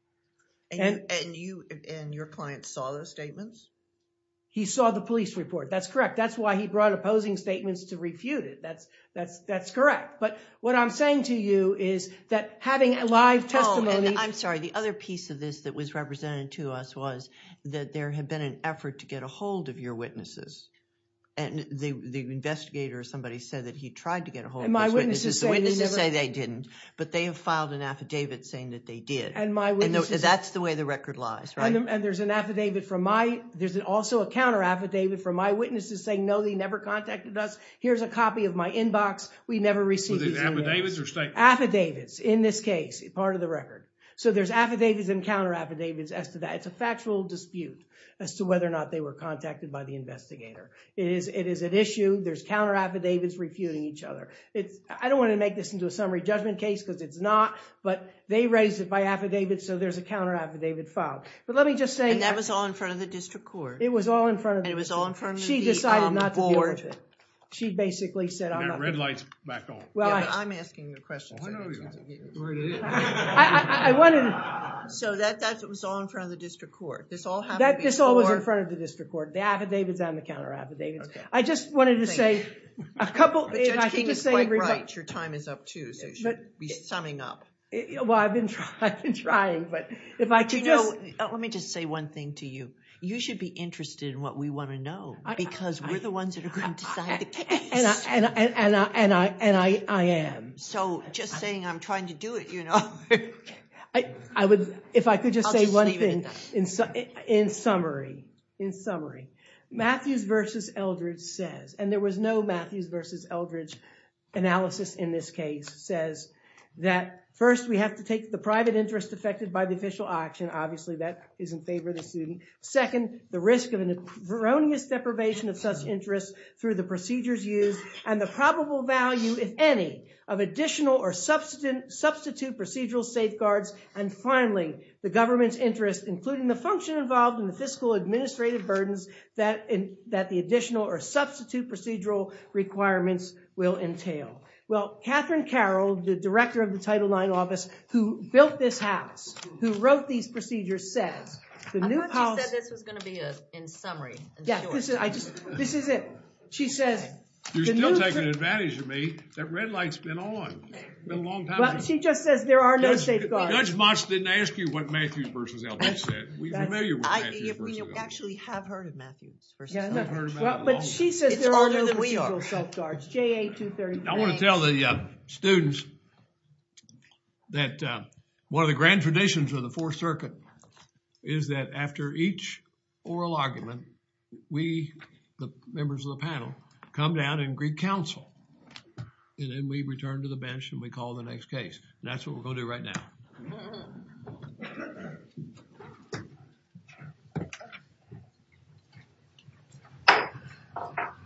And you, and your client saw those statements? He saw the police report. That's correct. That's why he brought opposing statements to refute it. That's, that's, that's correct. But what I'm saying to you is that having a live testimony... I'm sorry. The other piece of this that was represented to us was that there had been an effort to get a hold of your witnesses. And the, the investigator or somebody said that he tried to get a hold of those witnesses. The witnesses say they didn't, but they have filed an affidavit saying that they did. And my witnesses... That's the way the record lies, right? And there's an affidavit from my, there's also a counter affidavit from my witnesses saying, no, they never contacted us. Here's a copy of my inbox. We never received these emails. Were these affidavits or statements? Affidavits in this case, part of the record. So there's affidavits and counter affidavits as to that. It's a factual dispute as to whether or not they were contacted by the investigator. It is, it is an issue. There's counter affidavits refuting each other. It's, I don't want to make this into a summary judgment case because it's not, but they raised it by affidavit. So there's a counter affidavit filed. But let me just say... And that was all in front of the district court. It was all in front of... And it was all in front of the board. She decided not to deal with it. She basically said... And that red light's back on. I'm asking the questions. I wanted to... So that was all in front of the district court. This all happened before... This all was in front of the district court. The affidavits and the counter affidavits. I just wanted to say a couple... But Judge King is quite right. Your time is up too. So you should be summing up. Well, I've been trying, but if I could just... Let me just say one thing to you. You should be interested in what we want to know because we're the ones that are going to decide the case. And I am. So just saying I'm trying to do it, you know? If I could just say one thing. In summary, in summary, Matthews versus Eldridge says, and there was no Matthews versus Eldridge analysis in this case, says that first, we have to take the private interest affected by the official action. Obviously, that is in favor of the student. Second, the risk of an erroneous deprivation of such interests through the procedures used and the probable value, if any, of additional or substitute procedural safeguards. And finally, the government's interest, including the function involved in the fiscal administrative burdens that the additional or substitute procedural requirements will entail. Well, Catherine Carroll, the director of the Title IX office, who built this house, who wrote these procedures, says the new policy... I thought you said this was going to be in summary. Yeah, this is it. She says... You're still taking advantage of me. That red light's been on a long time. She just says there are no safeguards. Judge Motz didn't ask you what Matthews versus Eldridge said. We're familiar with Matthews versus Eldridge. We actually have heard of Matthews versus Eldridge. But she says there are no procedural safeguards. I want to tell the students that one of the grand traditions of the Fourth Circuit is that after each oral argument, we, the members of the panel, come down and greet counsel. And then we return to the bench and we call the next case. That's what we're going to do right now.